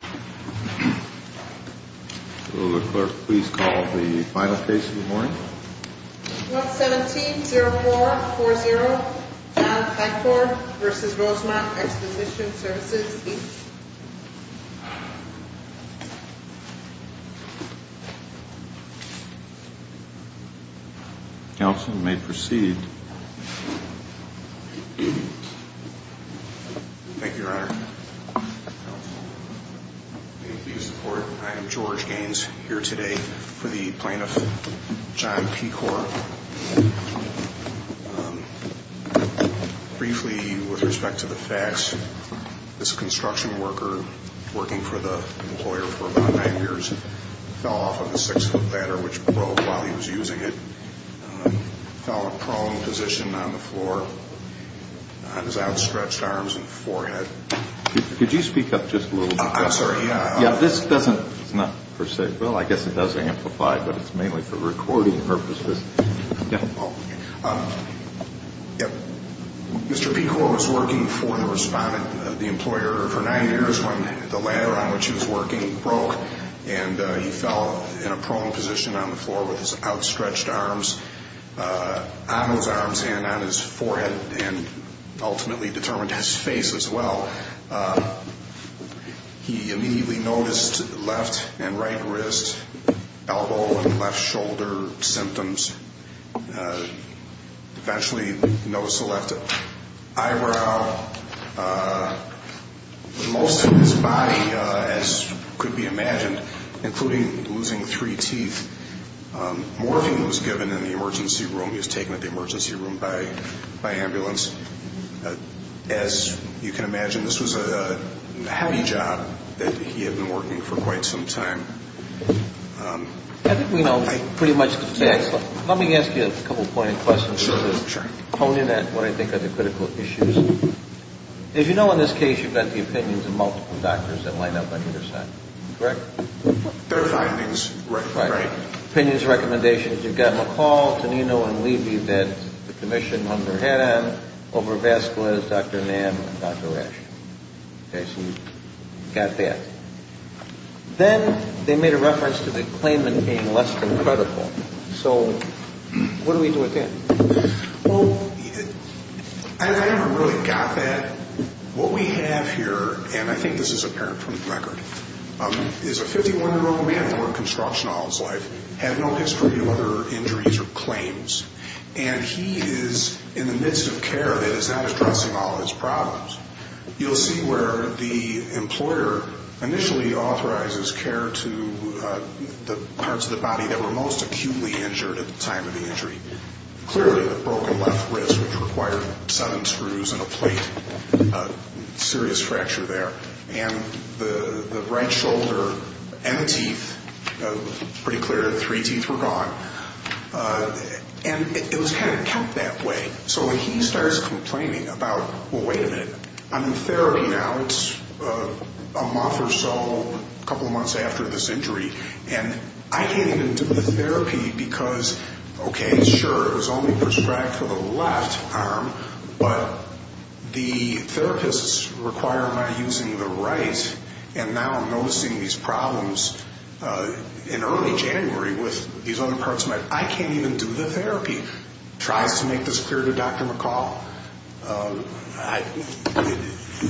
117-04-40 McClure v. Rosemont Exposition Services, Inc. Counsel may proceed. Thank you, Your Honor. May it please the Court, I am George Gaines, here today for the plaintiff, John Pecor. Briefly, with respect to the facts, this construction worker, working for the employer for about nine years, fell off of a six-foot ladder, which broke while he was using it, fell in a prone position on the floor, on his outstretched arms and forehead. Could you speak up just a little bit? I'm sorry, yeah. Yeah, this doesn't, it's not per se, well, I guess it does amplify, but it's mainly for recording purposes. Mr. Pecor was working for the respondent, the employer, for nine years when the ladder on which he was working broke, and he fell in a prone position on the floor with his outstretched arms on his arms and on his forehead, and ultimately determined his face as well. He immediately noticed left and right wrist, elbow and left shoulder symptoms, eventually noticed a left eyebrow. Most of his body, as could be imagined, including losing three teeth, more of him was given in the emergency room. He was taken to the emergency room by ambulance. As you can imagine, this was a heavy job that he had been working for quite some time. I think we know pretty much the facts. Let me ask you a couple of pointed questions. Sure, sure. Pone in at what I think are the critical issues. As you know, in this case, you've got the opinions of multiple doctors that line up on either side, correct? Their findings, right. Right. Opinions, recommendations. You've got McCall, Tonino, and Levy that the commission hung their head on over Vasquez, Dr. Nam, and Dr. Rasch. Okay, so you got that. Then they made a reference to the claimant being less than credible. So what do we do with that? Well, I haven't really got that. What we have here, and I think this is apparent from the record, is a 51-year-old man who worked construction all his life, had no history of other injuries or claims, and he is in the midst of care that is not addressing all of his problems. You'll see where the employer initially authorizes care to the parts of the body that were most acutely injured at the time of the injury. Clearly, the broken left wrist, which required seven screws and a plate, serious fracture there. And the right shoulder and teeth, pretty clear, three teeth were gone. And it was kind of kept that way. So he starts complaining about, well, wait a minute, I'm in therapy now. It's a month or so, a couple of months after this injury, and I can't even do the therapy because, okay, sure, it was only prescribed for the left arm, but the therapists require my using the right, and now I'm noticing these problems in early January with these other parts of my body. I can't even do the therapy. He tries to make this clear to Dr. McCall.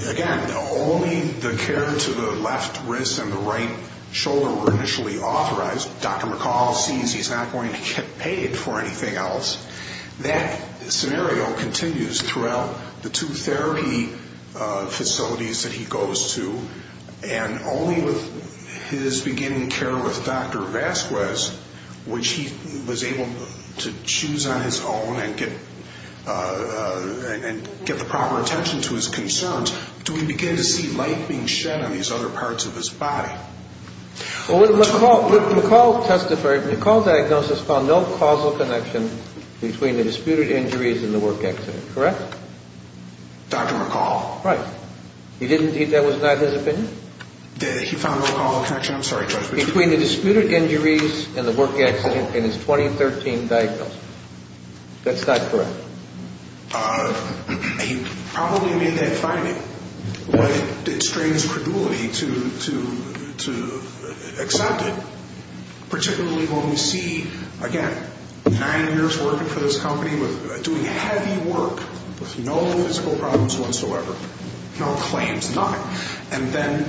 Again, only the care to the left wrist and the right shoulder were initially authorized. Dr. McCall sees he's not going to get paid for anything else. That scenario continues throughout the two therapy facilities that he goes to, and only with his beginning care with Dr. Vasquez, which he was able to choose on his own and get the proper attention to his concerns, do we begin to see light being shed on these other parts of his body. Well, when McCall testified, McCall's diagnosis found no causal connection between the disputed injuries and the work accident, correct? Dr. McCall. Right. That was not his opinion? He found no causal connection, I'm sorry, Judge. Between the disputed injuries and the work accident in his 2013 diagnosis. That's not correct. He probably made that finding, but it strains credulity to accept it, particularly when we see, again, nine years working for this company, doing heavy work with no physical problems whatsoever, no claims, nothing. And then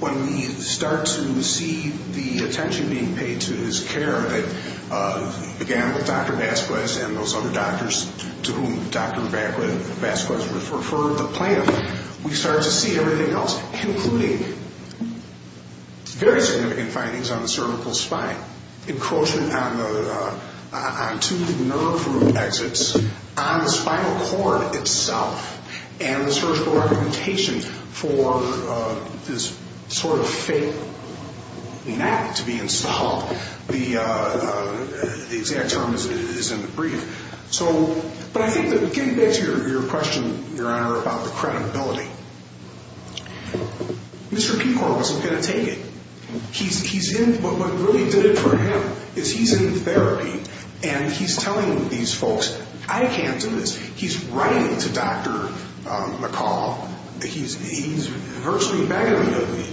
when we start to see the attention being paid to his care that began with Dr. Vasquez and those other doctors to whom Dr. Vasquez referred the plan, we start to see everything else, including very significant findings on the cervical spine, encroachment onto the nerve root exits, on the spinal cord itself, and the surgical documentation for this sort of fake map to be installed. The exact term is in the brief. But I think getting back to your question, Your Honor, about the credibility, Mr. Pecor wasn't going to take it. What really did it for him is he's in therapy, and he's telling these folks, I can't do this. He's writing to Dr. McCall. He's virtually begging him,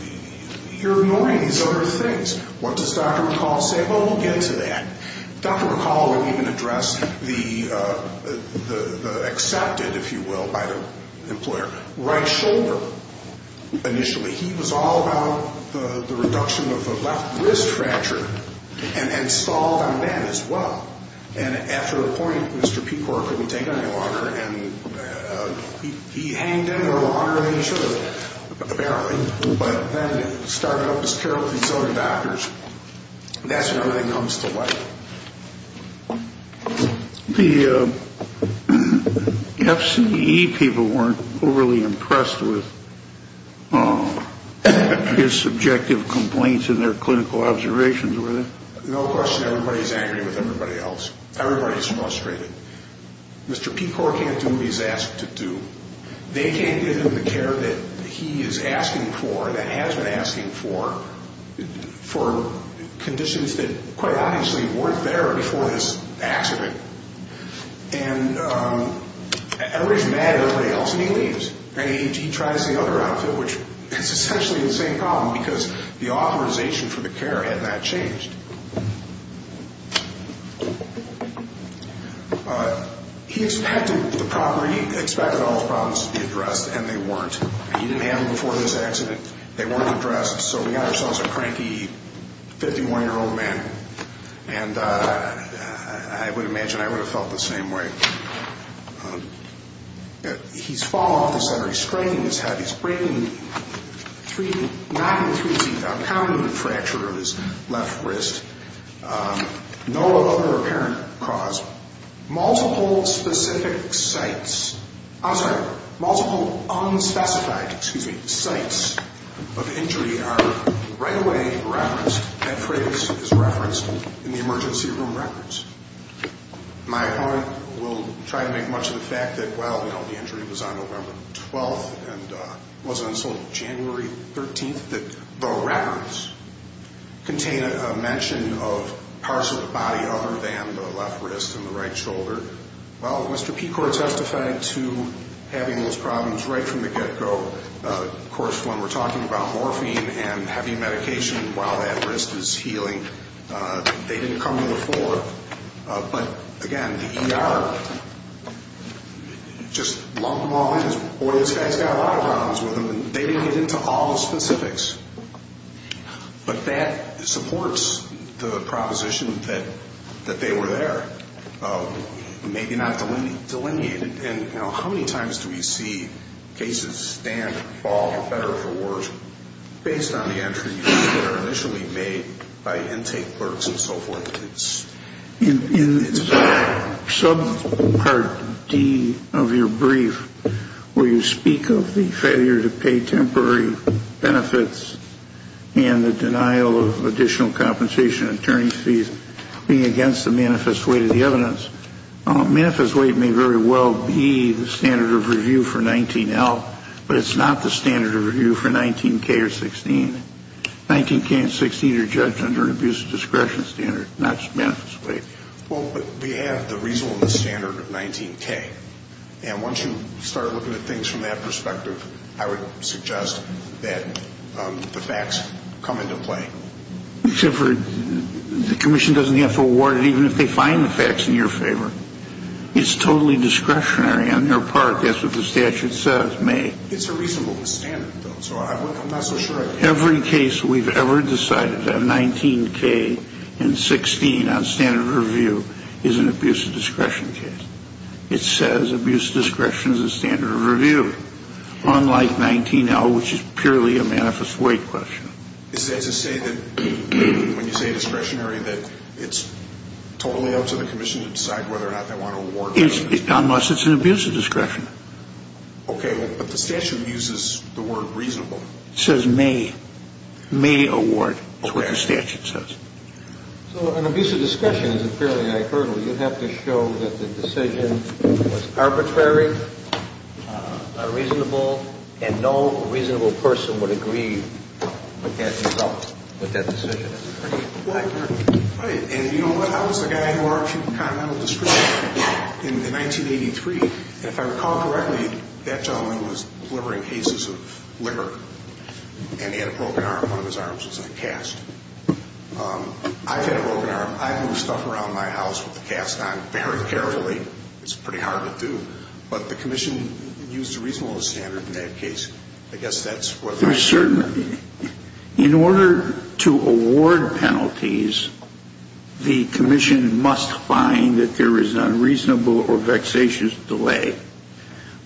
you're ignoring these other things. What does Dr. McCall say? Well, we'll get to that. Dr. McCall will even address the accepted, if you will, by the employer. Right shoulder, initially, he was all about the reduction of the left wrist fracture and installed on that as well. And after a point, Mr. Pecor couldn't take it any longer, and he hanged in there longer than he should have, apparently, but then started up his care with these other doctors. That's when everything comes to light. The FCE people weren't overly impressed with his subjective complaints and their clinical observations, were they? No question everybody's angry with everybody else. Everybody's frustrated. Mr. Pecor can't do what he's asked to do. They can't give him the care that he is asking for, that has been asking for, for conditions that, quite obviously, weren't there before this accident. And everybody's mad at everybody else, and he leaves. And he tries the other outfit, which is essentially the same problem, because the authorization for the care had not changed. He expected all his problems to be addressed, and they weren't. He didn't have them before this accident. They weren't addressed. So we got ourselves a cranky 51-year-old man, and I would imagine I would have felt the same way. He's fallen off the center. He's straining his head. He's breaking three, knocking three teeth out, and he's having a fracture of his left wrist. No other apparent cause. Multiple specific sites. I'm sorry, multiple unspecified, excuse me, sites of injury are right away referenced. That phrase is referenced in the emergency room records. My opponent will try to make much of the fact that, well, you know, the injury was on November 12th and wasn't until January 13th that the records contain a mention of partial body other than the left wrist and the right shoulder. Well, Mr. Pecor testified to having those problems right from the get-go. Of course, when we're talking about morphine and having medication while that wrist is healing, they didn't come to the fore. But, again, the ER just lumped them all in. Well, these guys got a lot of problems with them, and they didn't get into all the specifics. But that supports the proposition that they were there, maybe not delineated. And, you know, how many times do we see cases stand, fall, or better for worse, based on the entries that are initially made by intake clerks and so forth? In subpart D of your brief, where you speak of the failure to pay temporary benefits and the denial of additional compensation attorney fees being against the manifest weight of the evidence, manifest weight may very well be the standard of review for 19L, but it's not the standard of review for 19K or 16. 19K and 16 are judged under an abuse of discretion standard. Not just manifest weight. Well, but we have the reasonable and the standard of 19K. And once you start looking at things from that perspective, I would suggest that the facts come into play. Except for the commission doesn't have to award it even if they find the facts in your favor. It's totally discretionary on their part. That's what the statute says, may. It's a reasonable standard, though, so I'm not so sure I can't. Every case we've ever decided that 19K and 16 on standard of review is an abuse of discretion case. It says abuse of discretion is a standard of review, unlike 19L, which is purely a manifest weight question. Is that to say that when you say discretionary, that it's totally up to the commission to decide whether or not they want to award it? Unless it's an abuse of discretion. Okay, but the statute uses the word reasonable. It says may. May award is what the statute says. So an abuse of discretion is a fairly high hurdle. You have to show that the decision was arbitrary, reasonable, and no reasonable person would agree with that result, with that decision. Right. And, you know, I was the guy who argued continental discretion in 1983. If I recall correctly, that gentleman was delivering cases of liquor, and he had a broken arm. One of his arms was uncast. I've had a broken arm. I move stuff around my house with the cast on very carefully. It's pretty hard to do. But the commission used a reasonable standard in that case. I guess that's what the statute says. In order to award penalties, the commission must find that there is an unreasonable or vexatious delay.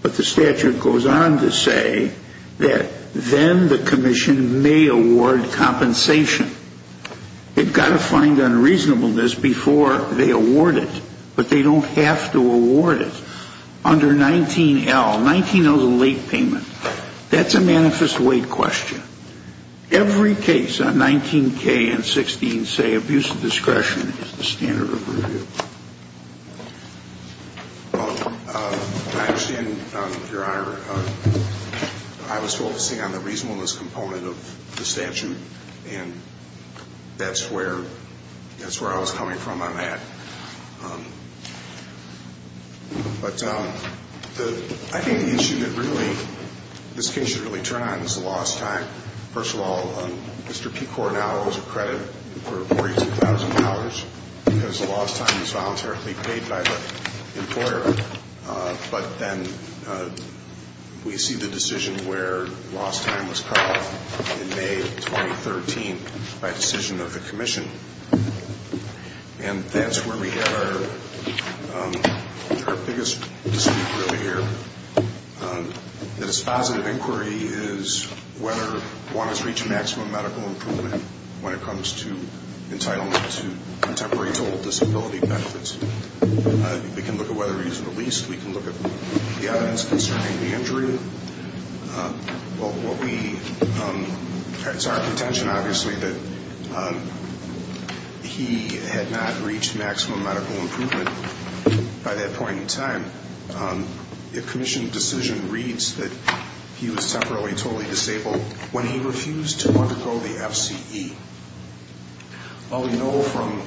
But the statute goes on to say that then the commission may award compensation. They've got to find unreasonableness before they award it. But they don't have to award it. Under 19L, 19L is a late payment. That's a manifest wait question. Every case on 19K and 16 say abuse of discretion is the standard of review. I understand, Your Honor, I was focusing on the reasonableness component of the statute, and that's where I was coming from on that. But I think the issue that really this case should really turn on is the lost time. First of all, Mr. P. Coronado is accredited for $42,000 because the lost time is voluntarily paid by the employer. But then we see the decision where lost time was called in May 2013 by decision of the commission. And that's where we get our biggest dispute really here. The dispositive inquiry is whether one has reached maximum medical improvement when it comes to entitlement to contemporary total disability benefits. We can look at whether he's released. We can look at the evidence concerning the injury. Well, what we, it's our contention, obviously, that he had not reached maximum medical improvement by that point in time. The commission decision reads that he was temporarily totally disabled when he refused to undergo the FCE. Well, we know from,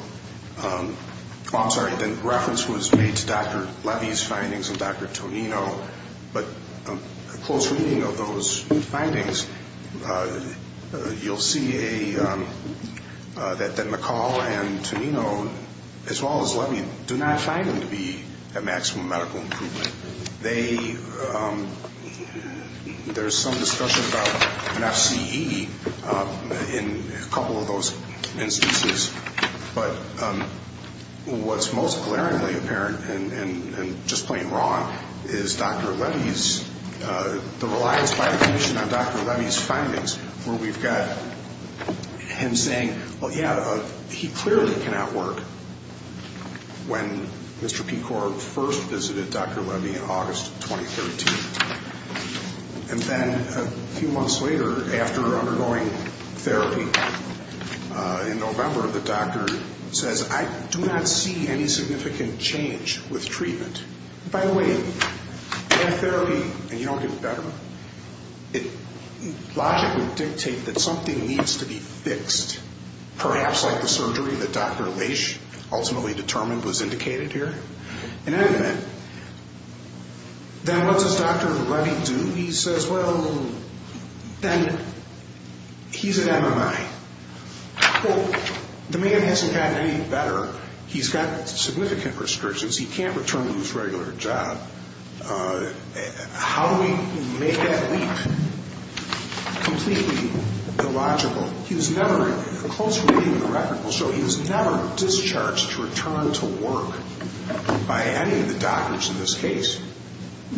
I'm sorry, the reference was made to Dr. Levy's findings and Dr. Tonino, but a close reading of those findings, you'll see that McCall and Tonino, as well as Levy, do not find him to be at maximum medical improvement. They, there's some discussion about an FCE in a couple of those instances, but what's most glaringly apparent and just plain wrong is Dr. Levy's, the reliance by the commission on Dr. Levy's findings where we've got him saying, well, yeah, he clearly cannot work when Mr. Pecor first visited Dr. Levy in August 2013. And then a few months later, after undergoing therapy in November, the doctor says, I do not see any significant change with treatment. By the way, in therapy, and you don't get better, it logically dictates that something needs to be fixed, perhaps like the surgery that Dr. Leish ultimately determined was indicated here. In any event, then what does Dr. Levy do? He says, well, then he's at MMI. Well, the man hasn't gotten any better. He's got significant restrictions. He can't return to his regular job. How do we make that leap completely illogical? He was never, close reading of the record will show, he was never discharged to return to work by any of the doctors in this case.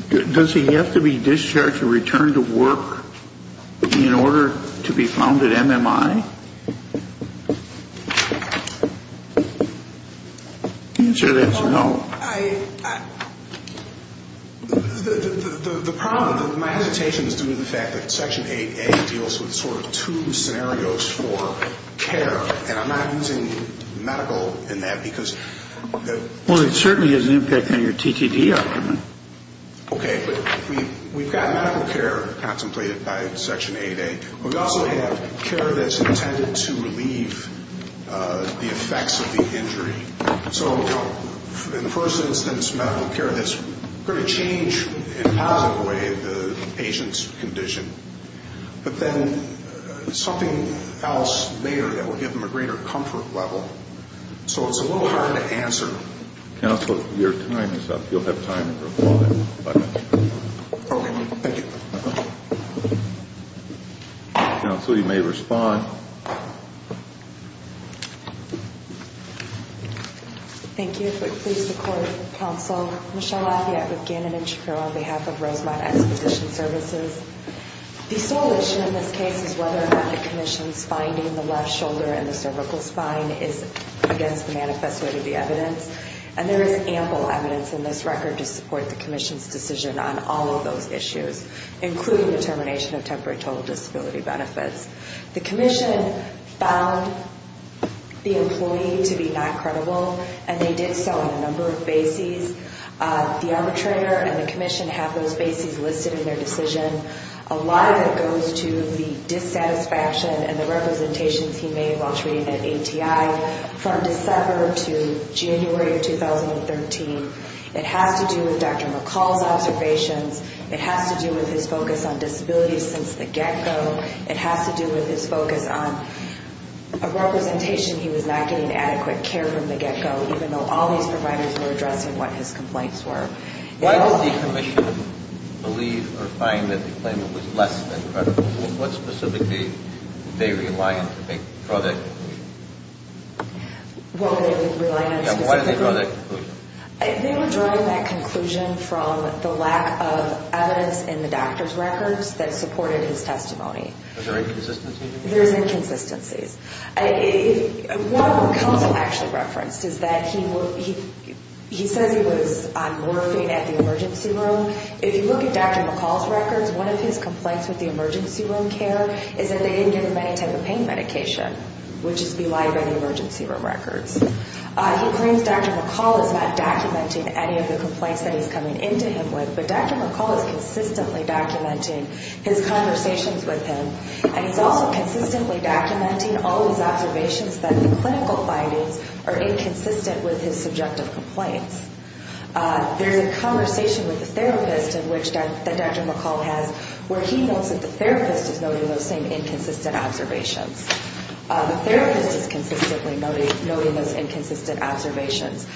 Does he have to be discharged to return to work in order to be found at MMI? The answer is no. Well, I, the problem, my hesitation is due to the fact that Section 8A deals with sort of two scenarios for care, and I'm not using medical in that because... Well, it certainly has an impact on your TTT argument. Okay, but we've got medical care contemplated by Section 8A. We also have care that's intended to relieve the effects of the injury. So in the first instance, medical care that's going to change in a positive way the patient's condition, but then something else later that will give them a greater comfort level. So it's a little hard to answer. Counsel, your time is up. You'll have time to reply. Okay, thank you. Counsel, you may respond. Thank you. If we could please support counsel Michelle Lafayette with Gannon and Trapero on behalf of Rosemont Expedition Services. The sole issue in this case is whether or not the commission's finding the left shoulder and the cervical spine is against the manifest way to the evidence, and there is ample evidence in this record to support the commission's decision on all of those issues, including the termination of temporary total disability benefits. The commission found the employee to be not credible, and they did so on a number of bases. The arbitrator and the commission have those bases listed in their decision. A lot of it goes to the dissatisfaction and the representations he made while treating an ATI from December to January of 2013. It has to do with Dr. McCall's observations. It has to do with his focus on disability since the get-go. It has to do with his focus on a representation he was not getting adequate care from the get-go, even though all these providers were addressing what his complaints were. Why does the commission believe or find that the claimant was less than credible? What specifically did they rely on to draw that conclusion? What did they rely on specifically? And why did they draw that conclusion? They were drawing that conclusion from the lack of evidence in the doctor's records that supported his testimony. Are there inconsistencies? There's inconsistencies. What McCall actually referenced is that he says he was on morphine at the emergency room. If you look at Dr. McCall's records, one of his complaints with the emergency room care is that they didn't give him any type of pain medication, which is belied by the emergency room records. He claims Dr. McCall is not documenting any of the complaints that he's coming into him with, but Dr. McCall is consistently documenting his conversations with him, and he's also consistently documenting all his observations that the clinical findings are inconsistent with his subjective complaints. There's a conversation with the therapist that Dr. McCall has where he notes that the therapist is noting those same inconsistent observations. The therapist is consistently noting those inconsistent observations.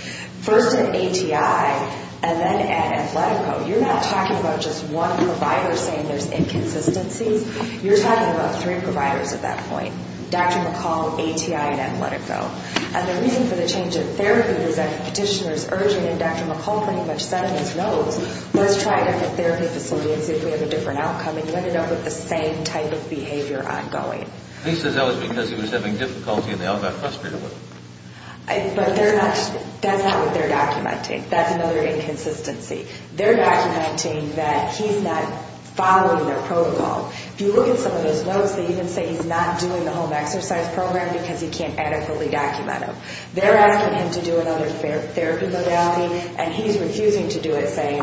First at ATI, and then at Athletico. You're not talking about just one provider saying there's inconsistencies. You're talking about three providers at that point, Dr. McCall, ATI, and Athletico. And the reason for the change in therapy is that the petitioner is urging, and Dr. McCall pretty much said in his notes, let's try a different therapy facility and see if we have a different outcome, and you ended up with the same type of behavior ongoing. He says that was because he was having difficulty and they all got frustrated with him. But that's not what they're documenting. That's another inconsistency. They're documenting that he's not following their protocol. If you look at some of those notes, they even say he's not doing the home exercise program because he can't adequately document them. They're asking him to do another therapy modality, and he's refusing to do it, saying,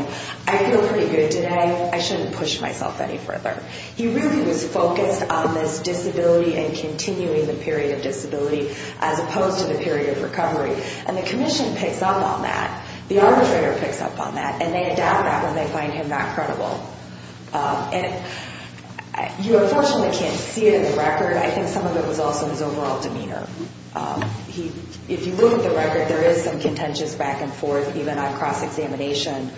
I feel pretty good today. I shouldn't push myself any further. He really was focused on this disability and continuing the period of disability as opposed to the period of recovery. And the commission picks up on that. The arbitrator picks up on that, and they adapt that when they find him not credible. And you unfortunately can't see it in the record. I think some of it was also his overall demeanor. If you look at the record, there is some contentious back and forth, even on cross-examination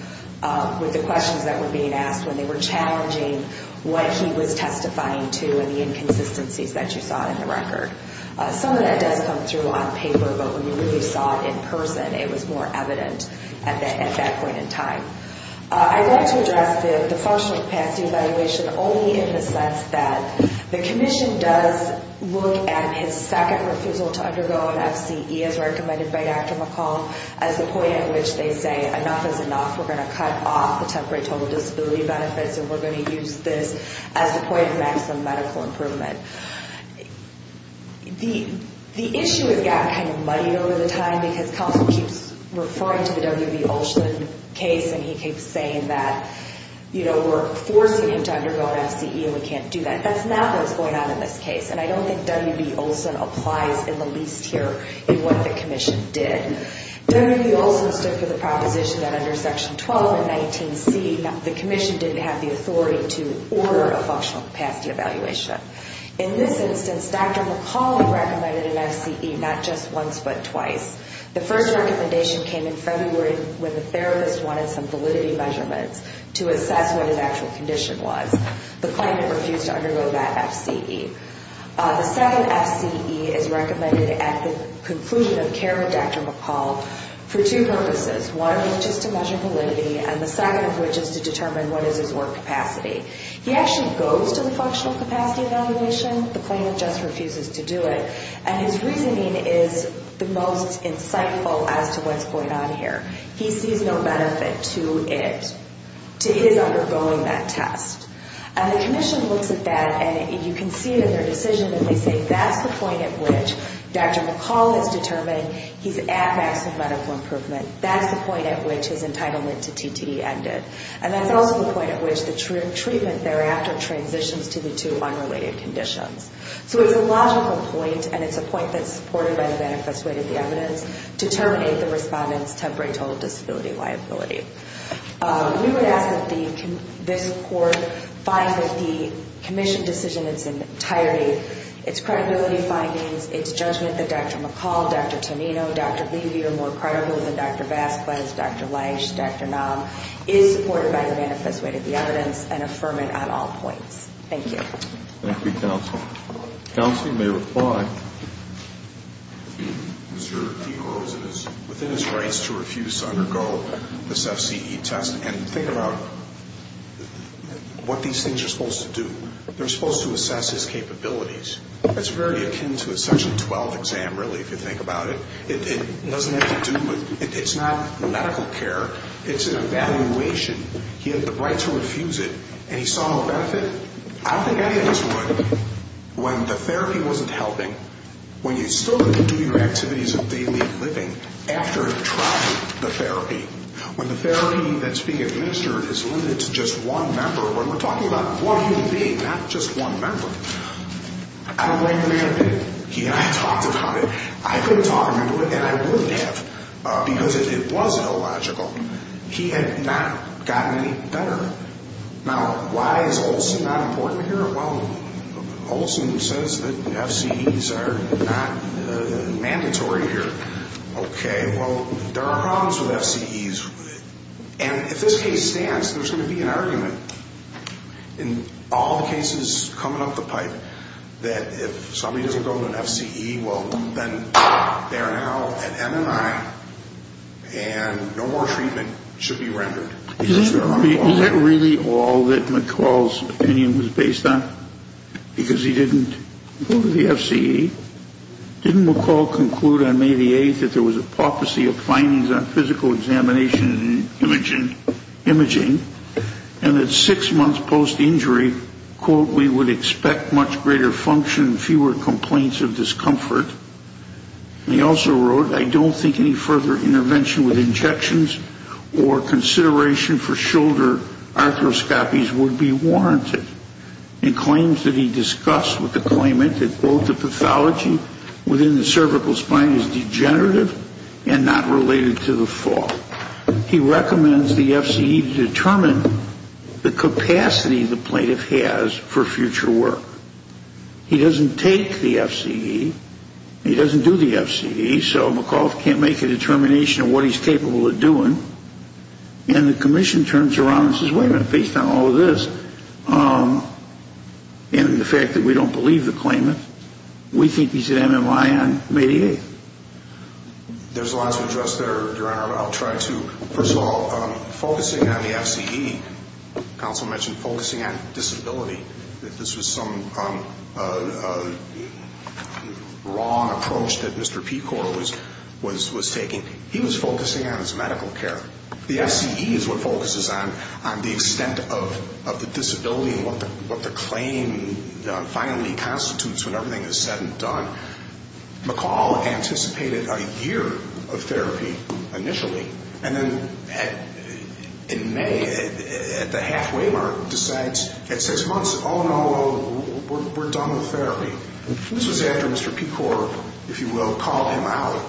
with the questions that were being asked when they were challenging what he was testifying to and the inconsistencies that you saw in the record. Some of that does come through on paper, but when you really saw it in person, it was more evident at that point in time. I'd like to address the functional capacity evaluation only in the sense that the commission does look at his second refusal to undergo an FCE, as recommended by Dr. McCall, as the point at which they say enough is enough. We're going to cut off the temporary total disability benefits, and we're going to use this as the point of maximum medical improvement. The issue has gotten kind of muddied over the time because Counsel keeps referring to the W.B. Olson case, and he keeps saying that we're forcing him to undergo an FCE and we can't do that. That's not what's going on in this case, and I don't think W.B. Olson applies in the least here in what the commission did. W.B. Olson stood for the proposition that under Section 12 and 19C, the commission didn't have the authority to order a functional capacity evaluation. In this instance, Dr. McCall recommended an FCE not just once but twice. The first recommendation came in February when the therapist wanted some validity measurements to assess what his actual condition was. The claimant refused to undergo that FCE. The second FCE is recommended at the conclusion of care with Dr. McCall for two purposes. One is just to measure validity, and the second of which is to determine what is his work capacity. He actually goes to the functional capacity evaluation. The claimant just refuses to do it, and his reasoning is the most insightful as to what's going on here. He sees no benefit to it, to his undergoing that test. And the commission looks at that, and you can see it in their decision, and they say that's the point at which Dr. McCall has determined he's at maximum medical improvement. That's the point at which his entitlement to TTD ended. And that's also the point at which the treatment thereafter transitions to the two unrelated conditions. So it's a logical point, and it's a point that's supported by the manifest way to the evidence to terminate the respondent's temporary total disability liability. We would ask that this court find that the commission decision in its entirety, its credibility findings, its judgment that Dr. McCall, Dr. Tonino, Dr. Levy are more credible than Dr. Vasquez, Dr. Leisch, Dr. Naum, is supported by the manifest way to the evidence and affirm it on all points. Thank you. Thank you, counsel. Counsel, you may reply. Mr. D. Groves, it is within his rights to refuse to undergo this FCE test. And think about what these things are supposed to do. They're supposed to assess his capabilities. It's very akin to a Section 12 exam, really, if you think about it. It doesn't have to do with ñ it's not medical care. It's an evaluation. He had the right to refuse it, and he saw no benefit. I don't think any of us would when the therapy wasn't helping, when you still have to do your activities of daily living after you've tried the therapy, when the therapy that's being administered is limited to just one member, when we're talking about one human being, not just one member. I don't know what you mean. Yeah, I talked about it. I could have talked him into it, and I would have, because it was illogical. He had not gotten any better. Now, why is Olson not important here? Well, Olson says that FCEs are not mandatory here. Okay, well, there are problems with FCEs. And if this case stands, there's going to be an argument in all the cases coming up the pipe that if somebody doesn't go to an FCE, well, then they're now at MNI, and no more treatment should be rendered. Is that really all that McCall's opinion was based on, because he didn't go to the FCE? Didn't McCall conclude on May the 8th that there was a paupacy of findings on physical examination and imaging, and that six months post-injury, quote, we would expect much greater function, fewer complaints of discomfort. And he also wrote, I don't think any further intervention with injections or consideration for shoulder arthroscopies would be warranted. And claims that he discussed with the claimant that, quote, within the cervical spine is degenerative and not related to the fall. He recommends the FCE determine the capacity the plaintiff has for future work. He doesn't take the FCE. He doesn't do the FCE, so McCall can't make a determination of what he's capable of doing. And the commission turns around and says, wait a minute, based on all of this, and the fact that we don't believe the claimant, we think he's an MMI on May the 8th. There's a lot to address there, Your Honor. I'll try to. First of all, focusing on the FCE, counsel mentioned focusing on disability, that this was some wrong approach that Mr. Pecor was taking. He was focusing on his medical care. The FCE is what focuses on the extent of the disability and what the claim finally constitutes when everything is said and done. McCall anticipated a year of therapy initially, and then in May at the halfway mark decides at six months, oh, no, we're done with therapy. This was after Mr. Pecor, if you will, called him out,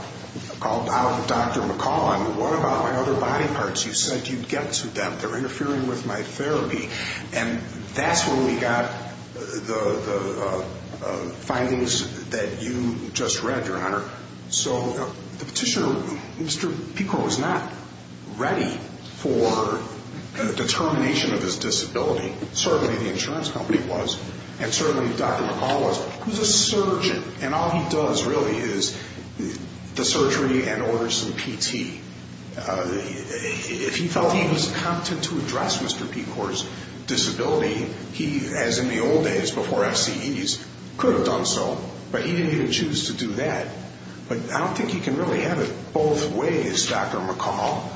called out Dr. McCall. I mean, what about my other body parts? You said you'd get to them. They're interfering with my therapy. And that's when we got the findings that you just read, Your Honor. So the petitioner, Mr. Pecor, was not ready for determination of his disability. Certainly the insurance company was, and certainly Dr. McCall was. And all he does really is the surgery and orders some PT. If he felt he was competent to address Mr. Pecor's disability, he, as in the old days before FCEs, could have done so, but he didn't even choose to do that. But I don't think he can really have it both ways, Dr. McCall.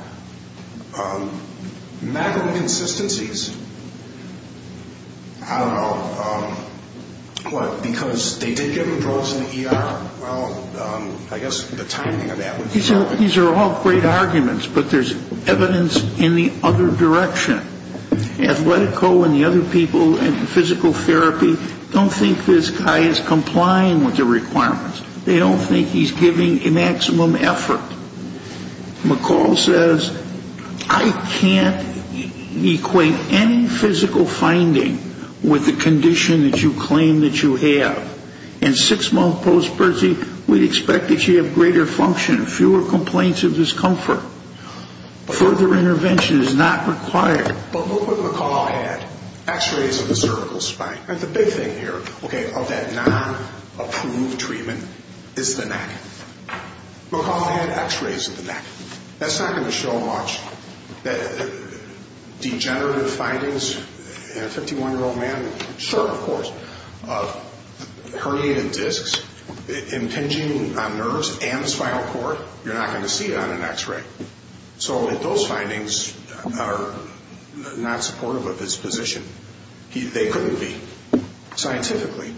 Medical consistencies, I don't know, what, because they did give him drugs in the ER. Well, I guess the timing of that would be. These are all great arguments, but there's evidence in the other direction. Athletico and the other people in physical therapy don't think this guy is complying with the requirements. They don't think he's giving a maximum effort. McCall says, I can't equate any physical finding with the condition that you claim that you have. In six-month postpartum, we'd expect that you have greater function, fewer complaints of discomfort. Further intervention is not required. But look what McCall had. X-rays of the cervical spine. The big thing here, okay, of that non-approved treatment is the neck. McCall had X-rays of the neck. That's not going to show much. Degenerative findings in a 51-year-old man, short of course, of herniated discs, impinging on nerves and spinal cord, you're not going to see it on an X-ray. So those findings are not supportive of his position. They couldn't be, scientifically.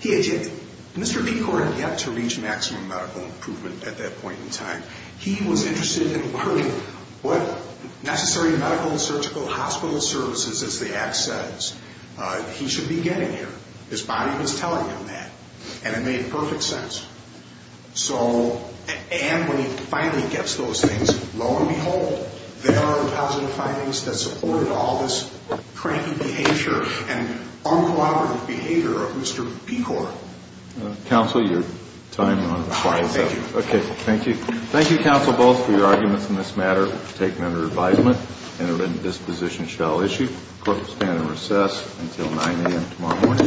Mr. Pecor had yet to reach maximum medical improvement at that point in time. He was interested in learning what necessary medical and surgical hospital services, as the act says, he should be getting here. His body was telling him that. And it made perfect sense. And when he finally gets those things, lo and behold, there are positive findings that supported all this cranky behavior and uncooperative behavior of Mr. Pecor. Counsel, your time is up. Thank you. Okay, thank you. Thank you, counsel, both, for your arguments in this matter. We'll take them under advisement. Interventive disposition shall issue. Court will stand in recess until 9 a.m. tomorrow morning.